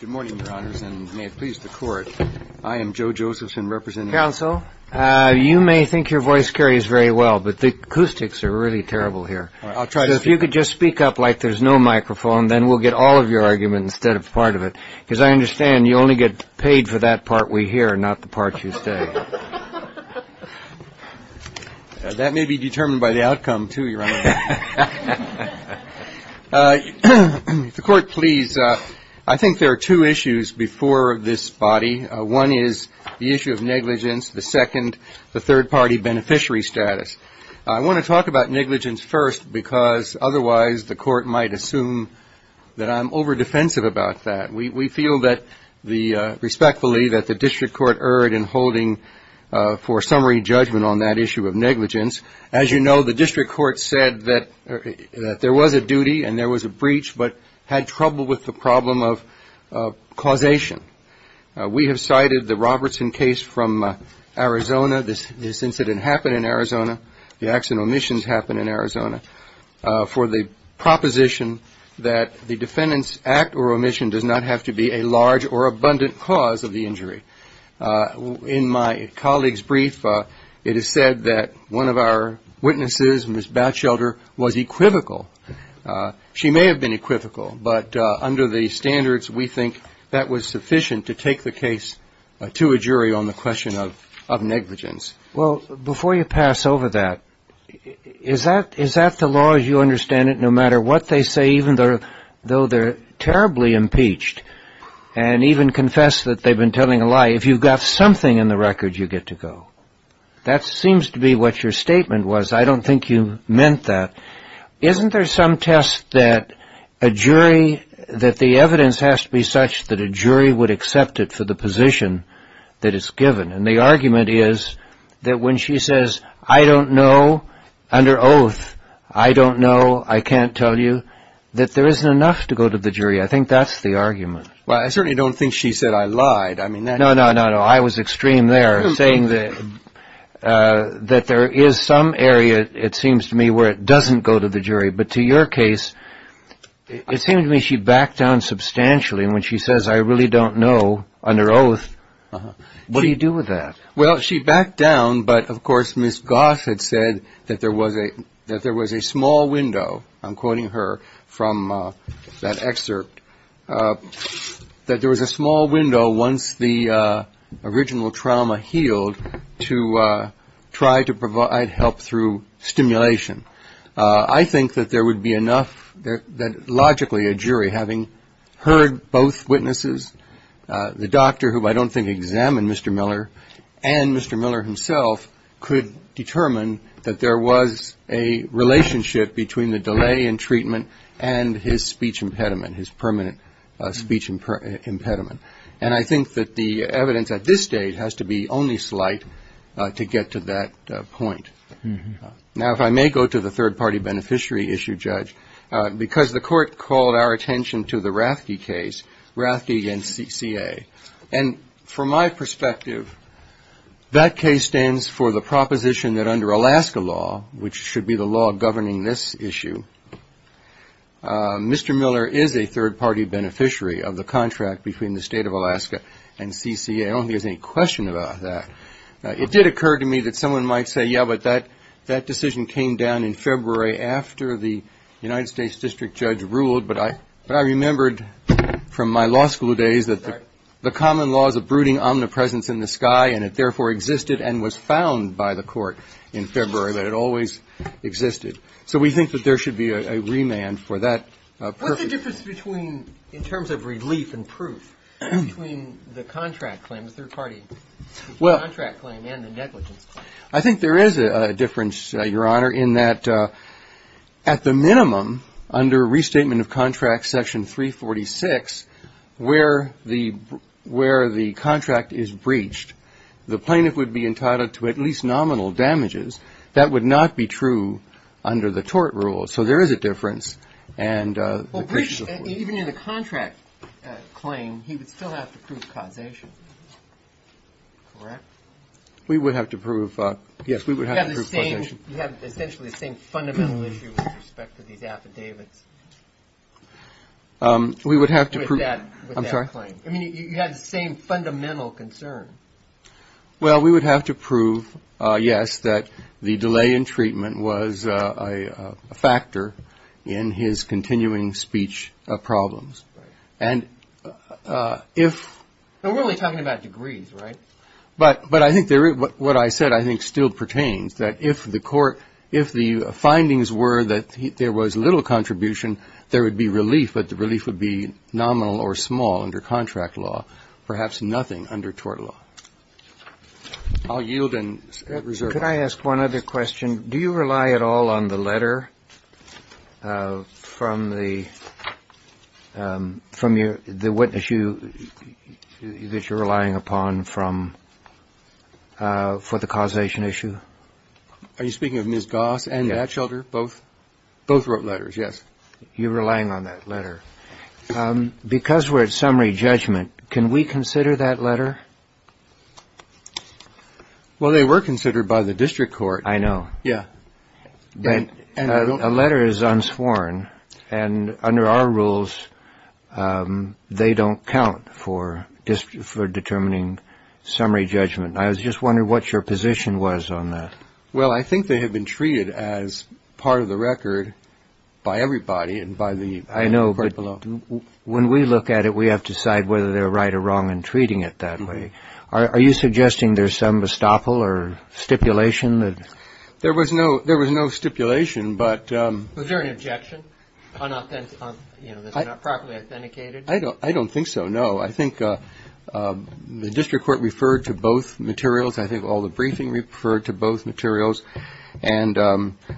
Good morning, Your Honors, and may it please the Court, I am Joe Josephson, representing Counsel. You may think your voice carries very well, but the acoustics are really terrible here. I'll try to speak. So if you could just speak up like there's no microphone, then we'll get all of your argument instead of part of it. Because I understand you only get paid for that part we hear, not the part you say. That may be determined by the outcome, too, Your Honor. If the Court please, I think there are two issues before this body. One is the issue of negligence. The second, the third-party beneficiary status. I want to talk about negligence first because otherwise the Court might assume that I'm over-defensive about that. We feel that the respectfully that the District Court erred in holding for District Court said that there was a duty and there was a breach, but had trouble with the problem of causation. We have cited the Robertson case from Arizona. This incident happened in Arizona. The accident omissions happened in Arizona for the proposition that the defendant's act or omission does not have to be a large or abundant cause of the injury. In my colleague's brief, it is said that one of our witnesses, Ms. Batchelder, was equivocal. She may have been equivocal, but under the standards we think that was sufficient to take the case to a jury on the question of negligence. Well, before you pass over that, is that the law as you understand it, no matter what they say, even though they're terribly impeached and even confess that they've been telling a lie, if you've got something in the record, you get to go. That seems to be what your statement was. I don't think you meant that. Isn't there some test that a jury, that the evidence has to be such that a jury would accept it for the position that it's given? And the argument is that when she says, I don't know, under oath, I don't know, I can't tell you, that there isn't enough to go to the jury. I think that's the argument. Well, I certainly don't think she said I lied. I mean, that... No, no, no, no. I was extreme there, saying that there is some area, it seems to me, where it doesn't go to the jury. But to your case, it seemed to me she backed down substantially. And when she says, I really don't know, under oath, what do you do with that? Well, she backed down. But, of course, Ms. Goss had said that there was a small window, I'm quoting her from that excerpt, that there was a small window once the original trauma healed to try to provide help through stimulation. I think that there would be enough that logically a jury, having heard both witnesses, the doctor, who I don't think examined Mr. Miller, and the delay in treatment, and his speech impediment, his permanent speech impediment. And I think that the evidence at this stage has to be only slight to get to that point. Now if I may go to the third-party beneficiary issue, Judge, because the Court called our attention to the Rathke case, Rathke v. CCA. And from my perspective, that case stands for the proposition that under Alaska law, which should be the law governing this issue, Mr. Miller is a third-party beneficiary of the contract between the State of Alaska and CCA. I don't think there's any question about that. It did occur to me that someone might say, yeah, but that decision came down in February after the United States District Judge ruled. But I remembered from my law school days that the common laws of brooding omnipresence in the sky, and it therefore existed and was found by the Court in February, that it always existed. So we think that there should be a remand for that purpose. What's the difference between, in terms of relief and proof, between the contract claim, the third-party contract claim and the negligence claim? I think there is a difference, Your Honor, in that at the minimum, under Restatement of Contracts, Section 346, where the contract is breached, the plaintiff would be entitled to at least nominal damages. That would not be true under the tort rules. So there is a difference. Well, breached even in the contract claim, he would still have to prove causation, correct? We would have to prove, yes, we would have to prove causation. You have essentially the same fundamental issue with respect to these affidavits. We would have to prove, I'm sorry? I mean, you have the same fundamental concern. Well, we would have to prove, yes, that the delay in treatment was a factor in his continuing speech problems. And if... Now, we're only talking about degrees, right? But I think what I said, I think, still pertains, that if the court, if the findings were that there was little contribution, there would be relief, but the relief would be nominal or small under contract law, perhaps nothing under tort law. I'll yield and reserve my time. Sir, could I ask one other question? Do you rely at all on the letter from the witness issue that you're relying upon from, for the causation issue? Are you speaking of Ms. Goss and Batchelder, both? Both wrote letters, yes. You're relying on that letter. Because we're at summary judgment, can we consider that letter? Well, they were considered by the district court. I know. Yeah. But a letter is unsworn, and under our rules, they don't count for determining summary judgment. I was just wondering what your position was on that. Well, I think they have been treated as part of the record by everybody and by the court below. When we look at it, we have to decide whether they're right or wrong in treating it that way. Are you suggesting there's some bestopple or stipulation that... There was no stipulation, but... Was there an objection? That it's not properly authenticated? I don't think so, no. I think the district court referred to both materials. I think all the briefing referred to both materials. And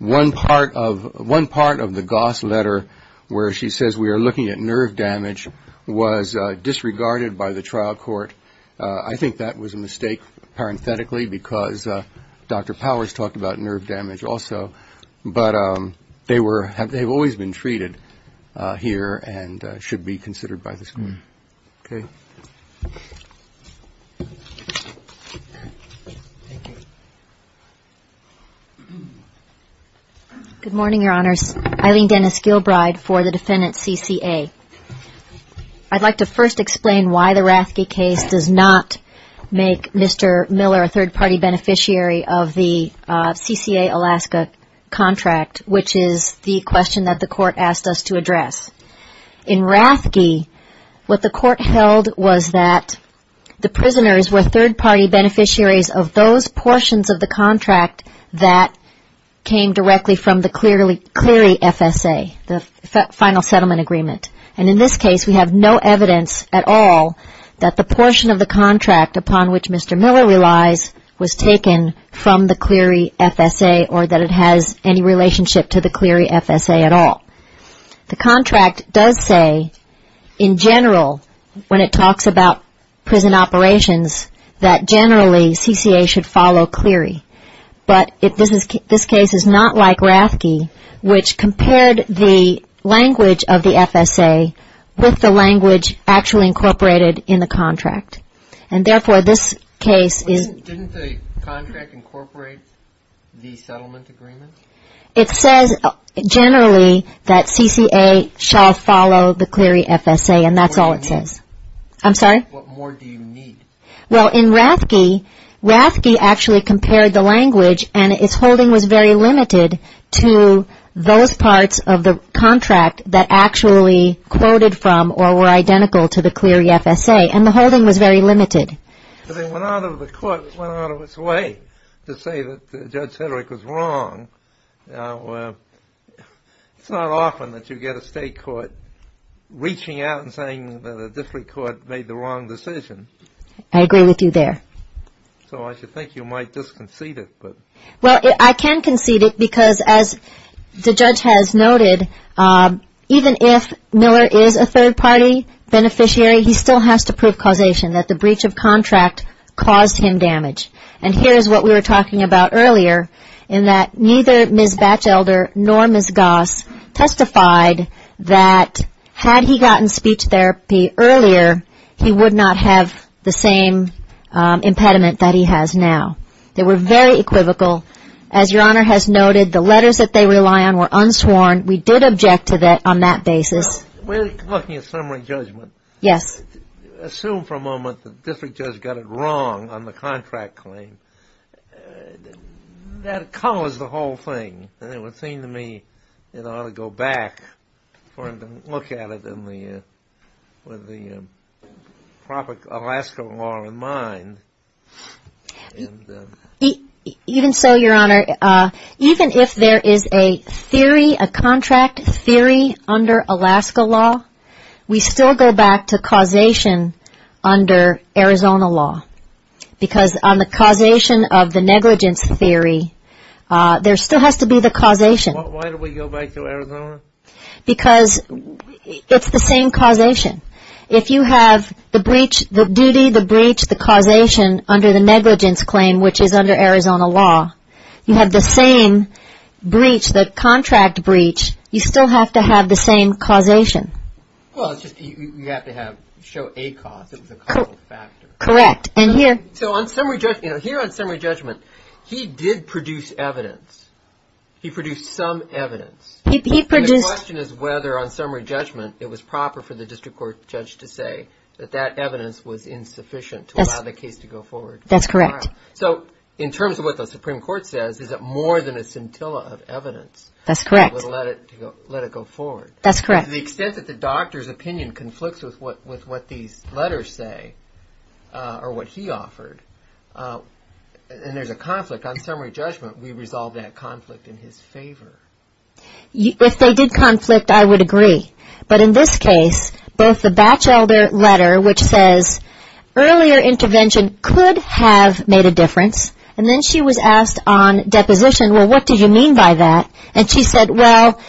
one part of the Goss letter, where she says we are looking at nerve damage, was disregarded by the trial court. I think that was a mistake, parenthetically, because Dr. Powers talked about nerve damage also. But they've always been treated here and should be considered by the school. Good morning, Your Honors. Eileen Dennis Gilbride for the defendant, CCA. I'd like to first explain why the Rathke case does not make Mr. Miller a third-party beneficiary of the CCA Alaska contract, which is the question that the court asked us to address. In Rathke, what the court held was that the prisoners were third-party beneficiaries of those portions of the contract that came directly from the Clery FSA, the Final Settlement Agreement. And in this case, we have no evidence at all that the portion of the contract upon which Mr. Miller relies was taken from the Clery FSA or that it has any relationship to the Clery FSA at all. The contract does say, in general, when it talks about prison operations, that generally CCA should follow Clery. But this case is not like Rathke, which compared the language of the FSA with the language actually incorporated in the contract. And therefore, this case is... Didn't the contract incorporate the settlement agreement? It says, generally, that CCA shall follow the Clery FSA, and that's all it says. What more do you need? Well, in Rathke, Rathke actually compared the language, and its holding was very limited to those parts of the contract that actually quoted from or were identical to the Clery FSA, and the holding was very limited. But it went out of the court, it went out of its way to say that Judge Sedgwick was wrong. It's not often that you get a state court reaching out and saying that a district court made the wrong decision. I agree with you there. So I should think you might disconcede it, but... Well, I can concede it because, as the judge has noted, even if Miller is a third party beneficiary, he still has to prove causation, that the breach of contract caused him damage. And here's what we were talking about earlier, in that neither Ms. Batchelder nor Ms. Goss testified that had he gotten speech therapy earlier, he would not have the same impediment that he has now. They were very equivocal. As Your Honor has noted, the letters that they rely on were unsworn. We did object to that on that basis. We're looking at summary judgment. Yes. Assume for a moment that the district judge got it wrong on the contract claim. That caused the whole thing. And it would seem to me, in order to go back, for him to look at it with the proper Alaska law in mind... Even so, Your Honor, even if there is a theory, a contract theory under Alaska law, we still go back to causation under Arizona law. Because on the causation of the negligence theory, there still has to be the causation. Why do we go back to Arizona? Because it's the same causation. If you have the breach, the duty, the breach, the causation under the negligence claim, which is under Arizona law, you have the same breach, the contract breach, you still have to have the same causation. Well, it's just, you have to have, show a cause. It was a causal factor. Correct. And here... So on summary judgment, here on summary judgment, he did produce evidence. He produced some evidence. And the question is whether, on summary judgment, it was proper for the district court judge to say that that evidence was insufficient to allow the case to go forward. That's correct. So, in terms of what the Supreme Court says, is it more than a scintilla of evidence... That's correct. ...that would let it go forward? That's correct. To the extent that the doctor's opinion conflicts with what these letters say, or what he offered, and there's a conflict, on summary judgment, we resolve that conflict in his favor. If they did conflict, I would agree. But in this case, both the Batchelder letter, which says, earlier intervention could have made a difference, and then she was asked on deposition, well, what did you mean by that? And she said, well,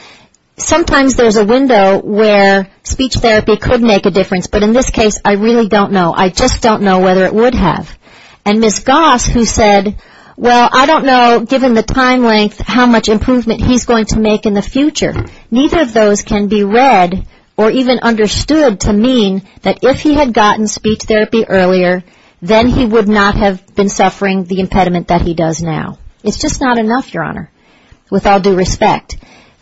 sometimes there's a window where speech therapy could make a difference, but in this case, I really don't know. I just don't know whether it would have. And Ms. Goss, who said, well, I don't know, given the time length, how much improvement he's going to make in the future. Neither of those can be read or even understood to mean that if he had gotten speech therapy earlier, then he would not have been suffering the impediment that he does now. It's just not enough, Your Honor, with all due respect.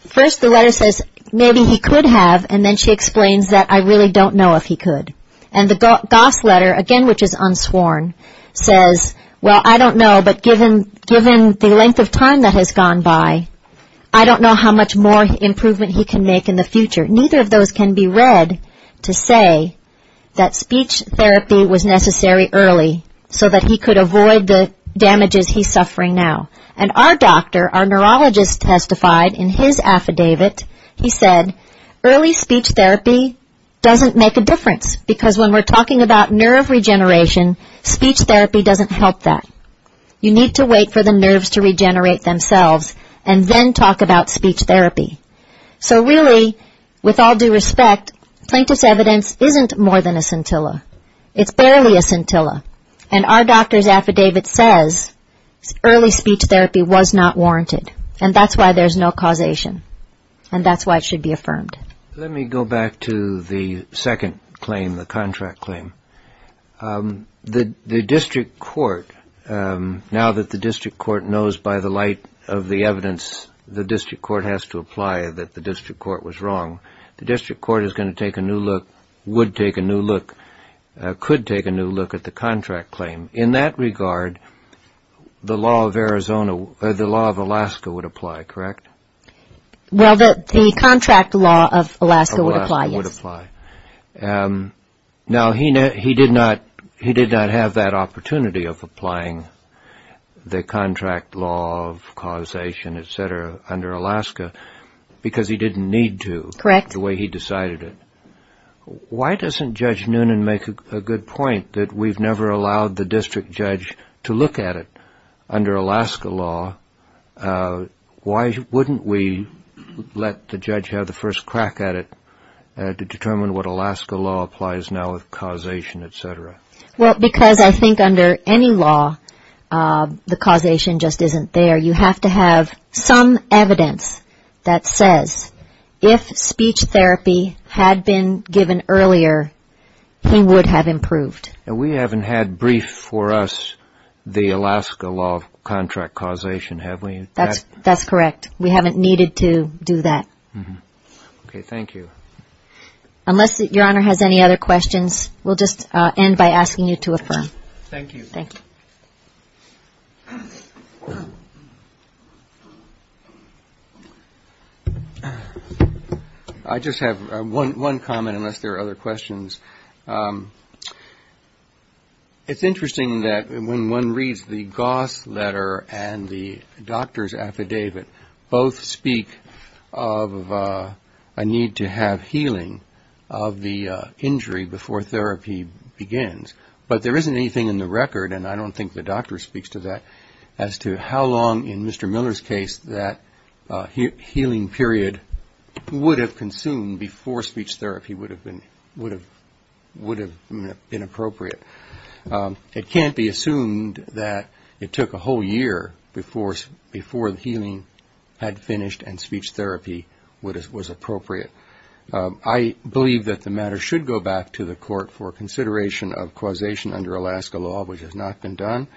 First, the letter says, maybe he could have, and then she explains that I really don't know if he could. And the Goss letter, again, which is unsworn, says, well, I don't know, but given the length of time that has gone by, I don't know how much more improvement he can make in the future. Neither of those can be read to say that speech therapy was necessary early so that he could avoid the damages he's suffering now. And our doctor, our neurologist testified in his affidavit, he said, early speech therapy doesn't make a difference, because when we're talking about nerve regeneration, speech therapy doesn't help that. You need to wait for the nerves to regenerate themselves, and then talk about speech therapy. So really, with all due respect, plaintiff's evidence isn't more than a scintilla. It's barely a scintilla. And our doctor's affidavit says early speech therapy was not warranted. And that's why there's no causation. And that's why it should be affirmed. Let me go back to the second claim, the contract claim. The district court, now that the district court knows by the light of the evidence the district court has to apply that the district court was wrong, the district court is going to take a new look, would take a new look, could take a new look at the contract claim. In that regard, the law of Alaska would apply, correct? Well, the contract law of Alaska would apply, yes. Alaska would apply. Now, he did not have that opportunity of applying the contract law of causation, et cetera, under Alaska, because he didn't need to. Correct. The way he decided it. Why doesn't Judge Noonan make a good point that we've never allowed the district judge to look at it under Alaska law? Why wouldn't we let the judge have the first crack at it to determine what Alaska law applies now with causation, et cetera? Well, because I think under any law, the causation just isn't there. You have to have some evidence that says if speech therapy had been given earlier, he would have improved. And we haven't had briefed for us the Alaska law of contract causation, have we? That's correct. We haven't needed to do that. Okay. Thank you. Unless Your Honor has any other questions, we'll just end by asking you to affirm. Thank you. Thank you. I just have one comment, unless there are other questions. It's interesting that when one reads the Goss letter and the doctor's affidavit, both speak of a need to have healing of the injury before speech therapy begins. But there isn't anything in the record, and I don't think the doctor speaks to that, as to how long in Mr. Miller's case that healing period would have consumed before speech therapy would have been appropriate. It can't be assumed that it took a whole year before the healing had finished and speech therapy was appropriate. I believe that the matter should go back to the court for consideration of causation under Alaska law, which has not been done,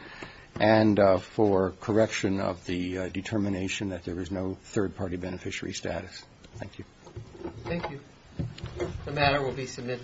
and for correction of the determination that there is no third-party beneficiary status. Thank you. Thank you. The matter will be submitted.